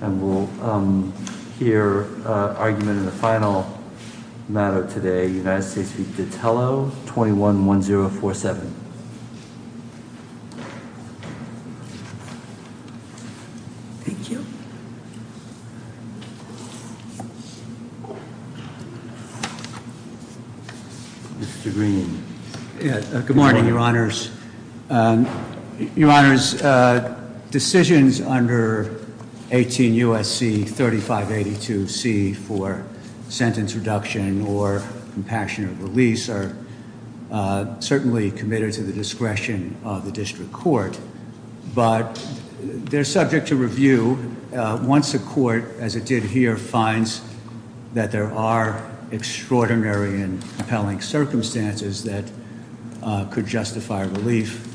And we'll hear argument in the final matter today, United States v. Datello, 21-1047. Thank you. Mr. Green. Good morning, your honors. Your honors, decisions under 18 U.S.C. 3582C for sentence reduction or compassionate release are certainly committed to the discretion of the district court. But they're subject to review once the court, as it did here, finds that there are extraordinary and compelling circumstances that could justify relief.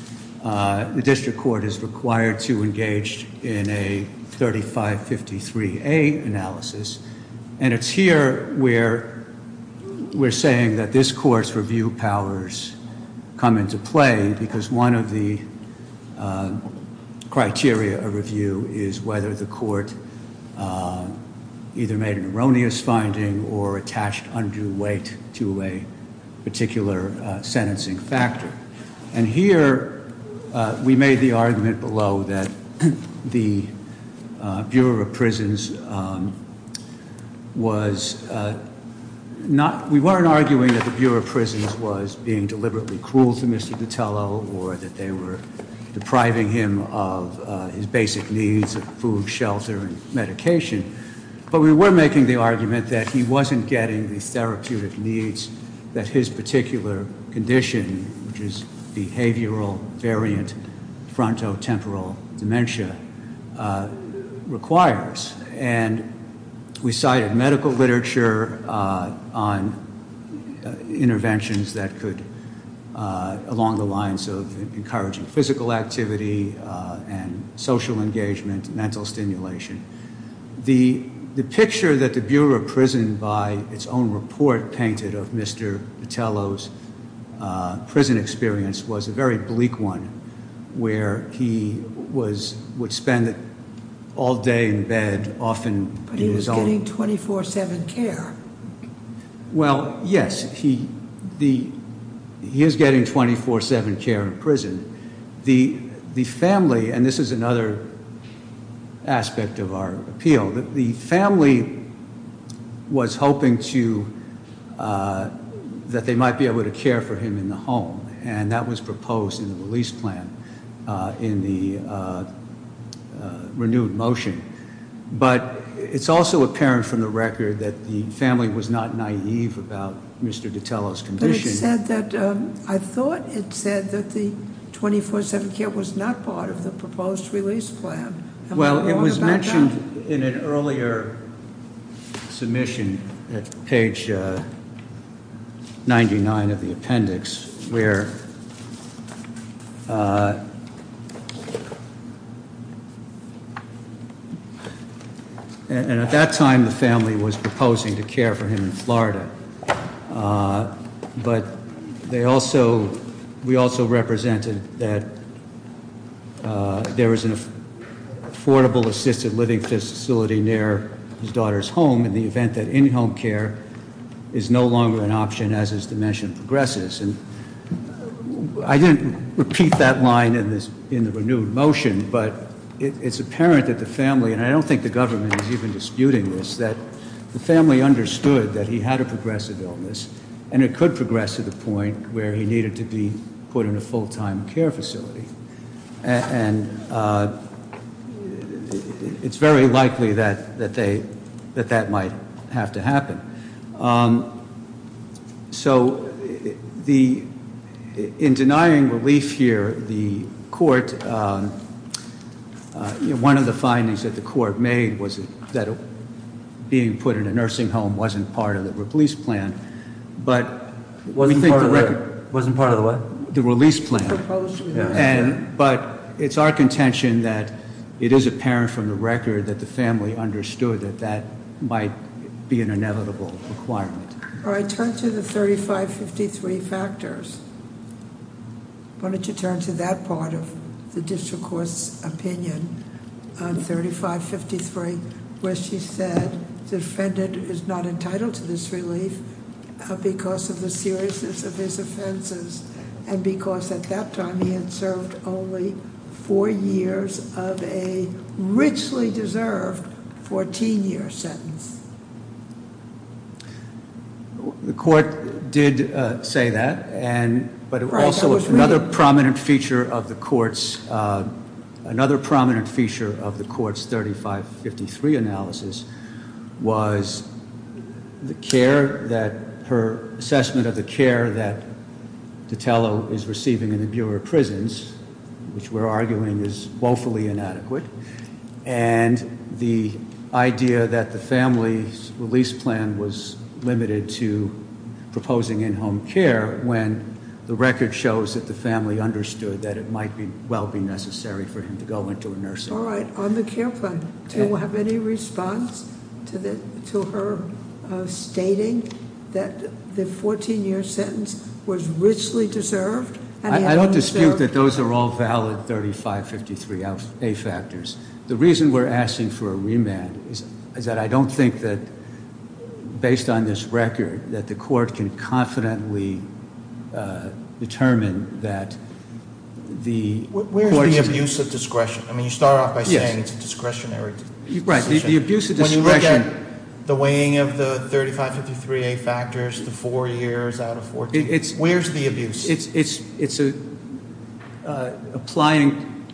The district court is required to engage in a 3553A analysis. And it's here where we're saying that this court's review powers come into play because one of the criteria of review is whether the court either made an erroneous finding or attached undue weight to a particular sentencing factor. And here we made the argument below that the Bureau of Prisons was not – we weren't arguing that the Bureau of Prisons was being deliberately cruel to Mr. Datello or that they were depriving him of his basic needs of food, shelter, and medication. But we were making the argument that he wasn't getting the therapeutic needs that his particular condition, which is behavioral variant frontotemporal dementia, requires. And we cited medical literature on interventions that could – along the lines of encouraging physical activity and social engagement, mental stimulation. The picture that the Bureau of Prison by its own report painted of Mr. Datello's prison experience was a very bleak one where he was – would spend all day in bed, often in his own- But he was getting 24-7 care. Well, yes. He is getting 24-7 care in prison. The family – and this is another aspect of our appeal – the family was hoping to – that they might be able to care for him in the home. And that was proposed in the release plan in the renewed motion. But it's also apparent from the record that the family was not naive about Mr. Datello's condition. It said that – I thought it said that the 24-7 care was not part of the proposed release plan. Well, it was mentioned in an earlier submission at page 99 of the appendix where – And at that time, the family was proposing to care for him in Florida. But they also – we also represented that there was an affordable assisted living facility near his daughter's home in the event that in-home care is no longer an option as his dementia progresses. And I didn't repeat that line in the renewed motion, but it's apparent that the family – and I don't think the government is even disputing this – that the family understood that he had a progressive illness, and it could progress to the point where he needed to be put in a full-time care facility. And it's very likely that they – that that might have to happen. So the – in denying relief here, the court – one of the findings that the court made was that being put in a nursing home wasn't part of the release plan. But we think the record – Wasn't part of the what? The release plan. But it's our contention that it is apparent from the record that the family understood that that might be an inevitable requirement. All right, turn to the 3553 factors. Why don't you turn to that part of the district court's opinion on 3553, where she said the defendant is not entitled to this relief because of the seriousness of his offenses, and because at that time he had served only four years of a richly deserved 14-year sentence. The court did say that, and – Right, that was – Another prominent feature of the court's – another prominent feature of the court's 3553 analysis was the care that – her assessment of the care that Tatello is receiving in the Bureau of Prisons, which we're arguing is woefully inadequate, and the idea that the family's release plan was limited to proposing in-home care when the record shows that the family understood that it might well be necessary for him to go into a nursing home. All right, on the care plan, do you have any response to her stating that the 14-year sentence was richly deserved? I don't dispute that those are all valid 3553A factors. The reason we're asking for a remand is that I don't think that, based on this record, that the court can confidently determine that the – Where is the abuse of discretion? I mean, you start off by saying it's a discretionary decision. Right, the abuse of discretion – When you look at the weighing of the 3553A factors, the four years out of 14, where's the abuse? It's applying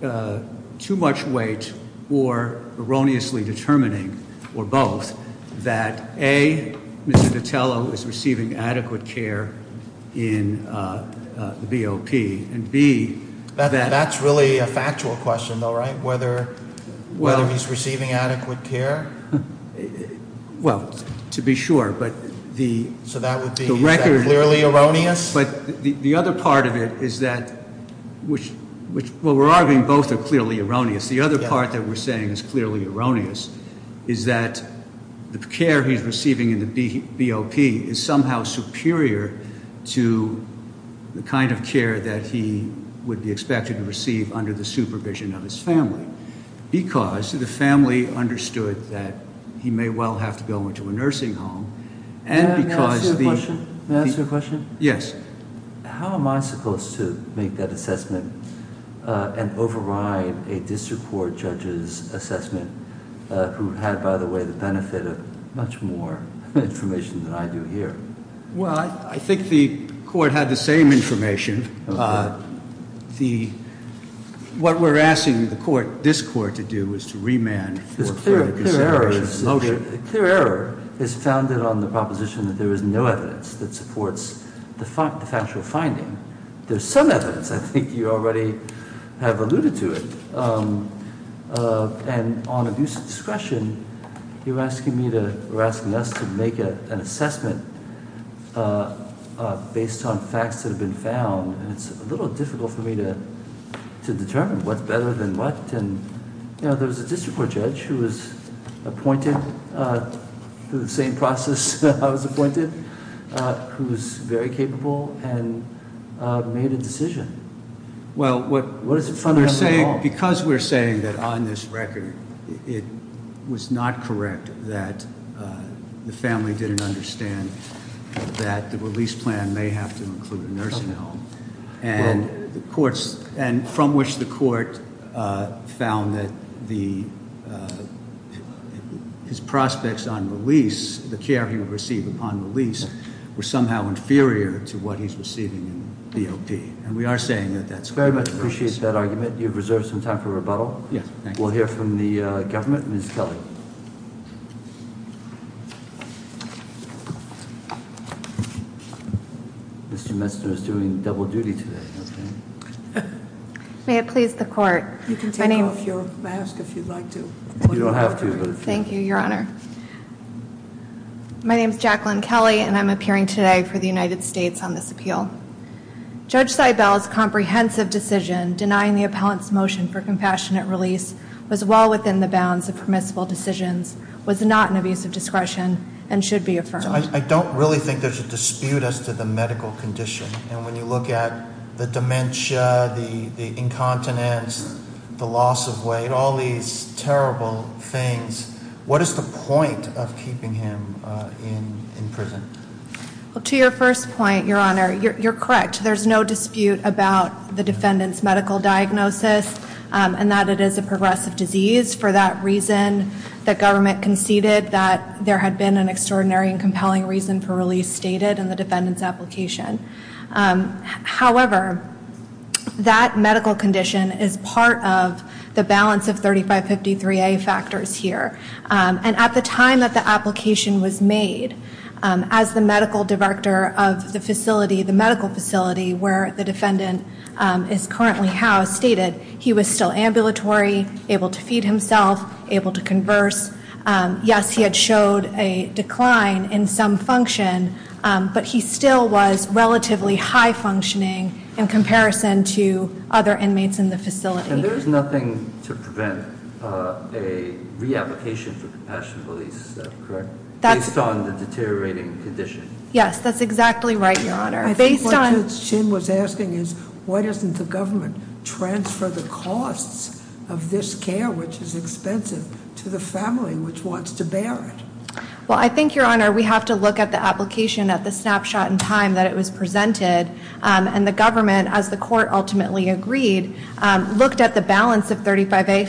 too much weight or erroneously determining, or both, that A, Mr. Tatello is receiving adequate care in the BOP, and B – That's really a factual question, though, right, whether he's receiving adequate care? Well, to be sure, but the – So that would be clearly erroneous? Yes, but the other part of it is that – well, we're arguing both are clearly erroneous. The other part that we're saying is clearly erroneous is that the care he's receiving in the BOP is somehow superior to the kind of care that he would be expected to receive under the supervision of his family, because the family understood that he may well have to go into a nursing home, and because the – May I ask you a question? Yes. How am I supposed to make that assessment and override a district court judge's assessment, who had, by the way, the benefit of much more information than I do here? Well, I think the court had the same information. Okay. The – what we're asking the court, this court, to do is to remand for the consideration of the motion. A clear error is founded on the proposition that there is no evidence that supports the factual finding. There's some evidence. I think you already have alluded to it. And on abuse of discretion, you're asking me to – we're asking us to make an assessment based on facts that have been found, and it's a little difficult for me to determine what's better than what. You know, there was a district court judge who was appointed through the same process I was appointed, who was very capable and made a decision. Well, what – What is it founded on? Because we're saying that on this record it was not correct that the family didn't understand that the release plan may have to include a nursing home, and the courts – and from which the court found that the – his prospects on release, the care he would receive upon release, were somehow inferior to what he's receiving in BOP. And we are saying that that's very much the case. I very much appreciate that argument. You've reserved some time for rebuttal. Yes. We'll hear from the government. Ms. Kelly. Mr. Messner is doing double duty today. May it please the court. You can take off your mask if you'd like to. You don't have to. Thank you, Your Honor. My name is Jacqueline Kelly, and I'm appearing today for the United States on this appeal. Judge Seibel's comprehensive decision denying the appellant's motion for compassionate release was well within the bounds of permissible discretion. I don't really think there's a dispute as to the medical condition. And when you look at the dementia, the incontinence, the loss of weight, all these terrible things, what is the point of keeping him in prison? To your first point, Your Honor, you're correct. There's no dispute about the defendant's medical diagnosis and that it is a progressive disease. For that reason, the government conceded that there had been an extraordinary and compelling reason for release stated in the defendant's application. However, that medical condition is part of the balance of 3553A factors here. And at the time that the application was made, as the medical director of the facility, the medical facility where the defendant is currently housed, stated he was still ambulatory, able to feed himself, able to converse. Yes, he had showed a decline in some function, but he still was relatively high functioning in comparison to other inmates in the facility. And there is nothing to prevent a re-application for compassionate release, is that correct, based on the deteriorating condition? Yes, that's exactly right, Your Honor. I think what Ms. Chin was asking is, why doesn't the government transfer the costs of this care, which is expensive, to the family which wants to bear it? Well, I think, Your Honor, we have to look at the application at the snapshot in time that it was presented. And the government, as the court ultimately agreed, looked at the balance of 3553A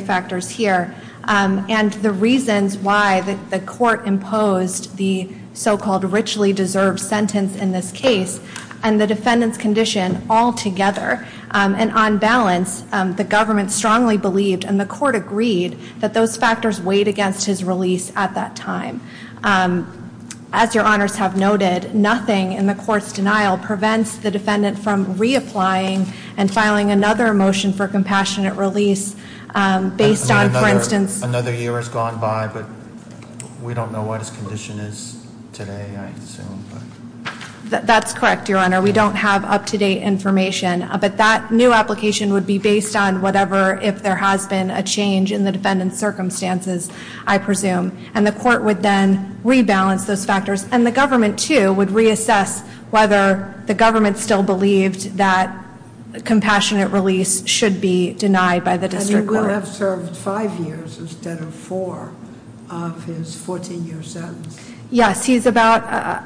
factors here and the reasons why the court imposed the so-called richly deserved sentence in this case and the defendant's condition altogether. And on balance, the government strongly believed, and the court agreed, that those factors weighed against his release at that time. As Your Honors have noted, nothing in the court's denial prevents the defendant from re-applying and filing another motion for compassionate release based on, for instance- I mean, another year has gone by, but we don't know what his condition is today, I assume. That's correct, Your Honor. We don't have up-to-date information. But that new application would be based on whatever, if there has been a change in the defendant's circumstances, I presume. And the court would then rebalance those factors. And the government, too, would reassess whether the government still believed that compassionate release should be denied by the district court. And he will have served five years instead of four of his 14-year sentence. Yes, he's about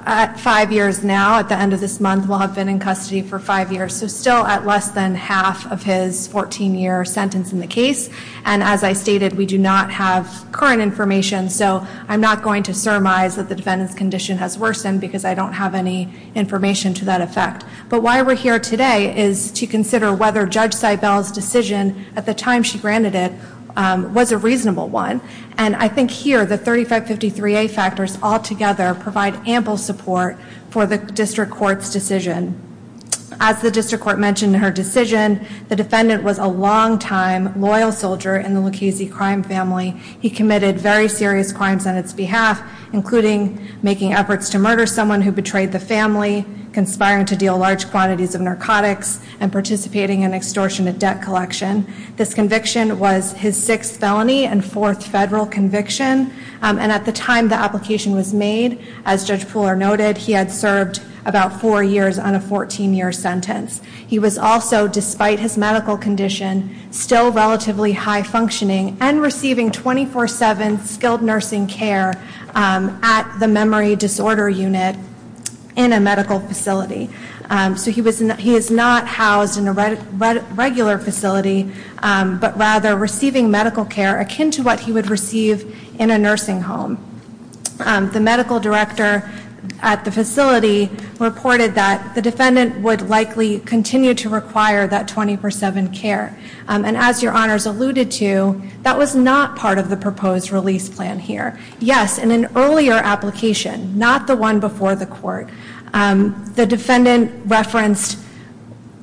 at five years now. At the end of this month, he'll have been in custody for five years. So still at less than half of his 14-year sentence in the case. And as I stated, we do not have current information, so I'm not going to surmise that the defendant's condition has worsened because I don't have any information to that effect. But why we're here today is to consider whether Judge Seibel's decision at the time she granted it was a reasonable one. And I think here the 3553A factors altogether provide ample support for the district court's decision. As the district court mentioned in her decision, the defendant was a longtime loyal soldier in the Lucchese crime family. He committed very serious crimes on its behalf, including making efforts to murder someone who betrayed the family, conspiring to deal large quantities of narcotics, and participating in extortionate debt collection. This conviction was his sixth felony and fourth federal conviction. And at the time the application was made, as Judge Pooler noted, he had served about four years on a 14-year sentence. He was also, despite his medical condition, still relatively high-functioning and receiving 24-7 skilled nursing care at the memory disorder unit in a medical facility. So he is not housed in a regular facility, but rather receiving medical care akin to what he would receive in a nursing home. The medical director at the facility reported that the defendant would likely continue to require that 24-7 care. And as Your Honors alluded to, that was not part of the proposed release plan here. Yes, in an earlier application, not the one before the court, the defendant referenced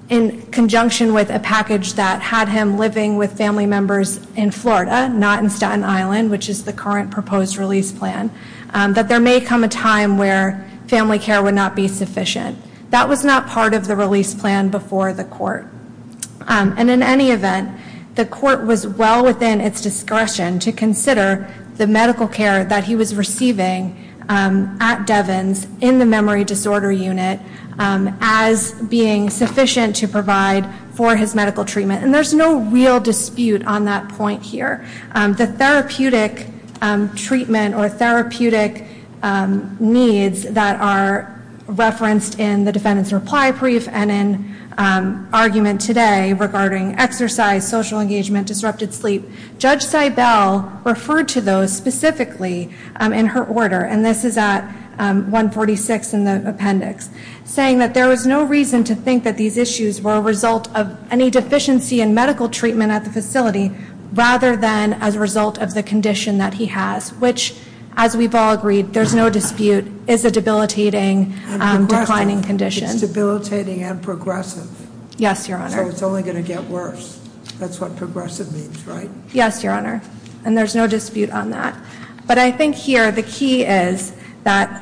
in conjunction with a package that had him living with family members in Florida, not in Staten Island, which is the current proposed release plan, that there may come a time where family care would not be sufficient. That was not part of the release plan before the court. And in any event, the court was well within its discretion to consider the medical care that he was receiving at Devens in the memory disorder unit as being sufficient to provide for his medical treatment. And there's no real dispute on that point here. The therapeutic treatment or therapeutic needs that are referenced in the defendant's reply brief and in argument today regarding exercise, social engagement, disrupted sleep, Judge Seibel referred to those specifically in her order, and this is at 146 in the appendix, saying that there was no reason to think that these issues were a result of any deficiency in medical treatment at the facility rather than as a result of the condition that he has. Which, as we've all agreed, there's no dispute, is a debilitating, declining condition. It's debilitating and progressive. Yes, Your Honor. So it's only going to get worse. That's what progressive means, right? Yes, Your Honor. And there's no dispute on that. But I think here the key is that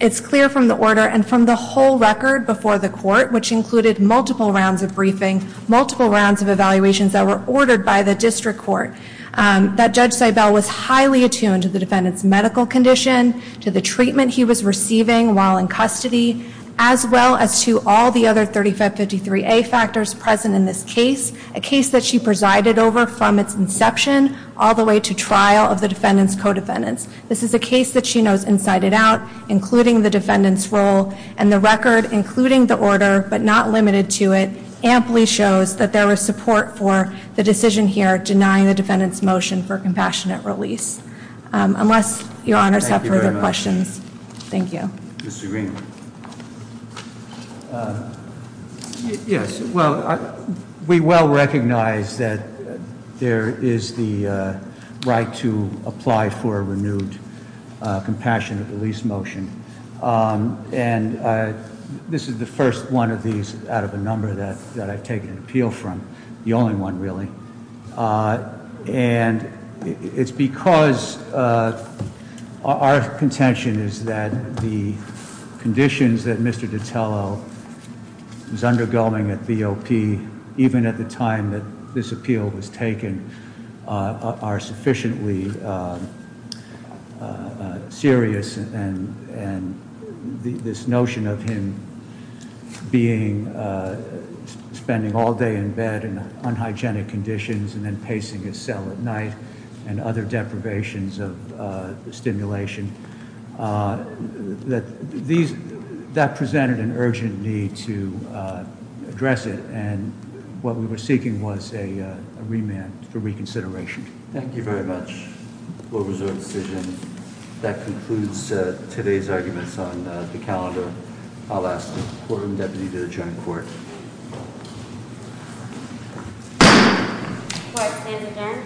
it's clear from the order and from the whole record before the court, which included multiple rounds of briefing, multiple rounds of evaluations that were ordered by the district court, that Judge Seibel was highly attuned to the defendant's medical condition, to the treatment he was receiving while in custody, as well as to all the other 3553A factors present in this case, a case that she presided over from its inception all the way to trial of the defendant's co-defendants. This is a case that she knows inside and out, including the defendant's role, and the record, including the order but not limited to it, amply shows that there was support for the decision here denying the defendant's motion for compassionate release. Unless Your Honors have further questions. Thank you very much. Thank you. Mr. Green. Yes. Well, we well recognize that there is the right to apply for a renewed compassionate release motion. And this is the first one of these out of a number that I've taken an appeal from. The only one, really. And it's because our contention is that the conditions that Mr. Ditello is undergoing at BOP, even at the time that this appeal was taken, are sufficiently serious, and this notion of him being, spending all day in bed in unhygienic conditions and then pacing his cell at night and other deprivations of stimulation, that presented an urgent need to address it. And what we were seeking was a remand for reconsideration. Thank you very much. What was our decision? That concludes today's arguments on the calendar. I'll ask the Quorum Deputy to adjourn court. Court is adjourned.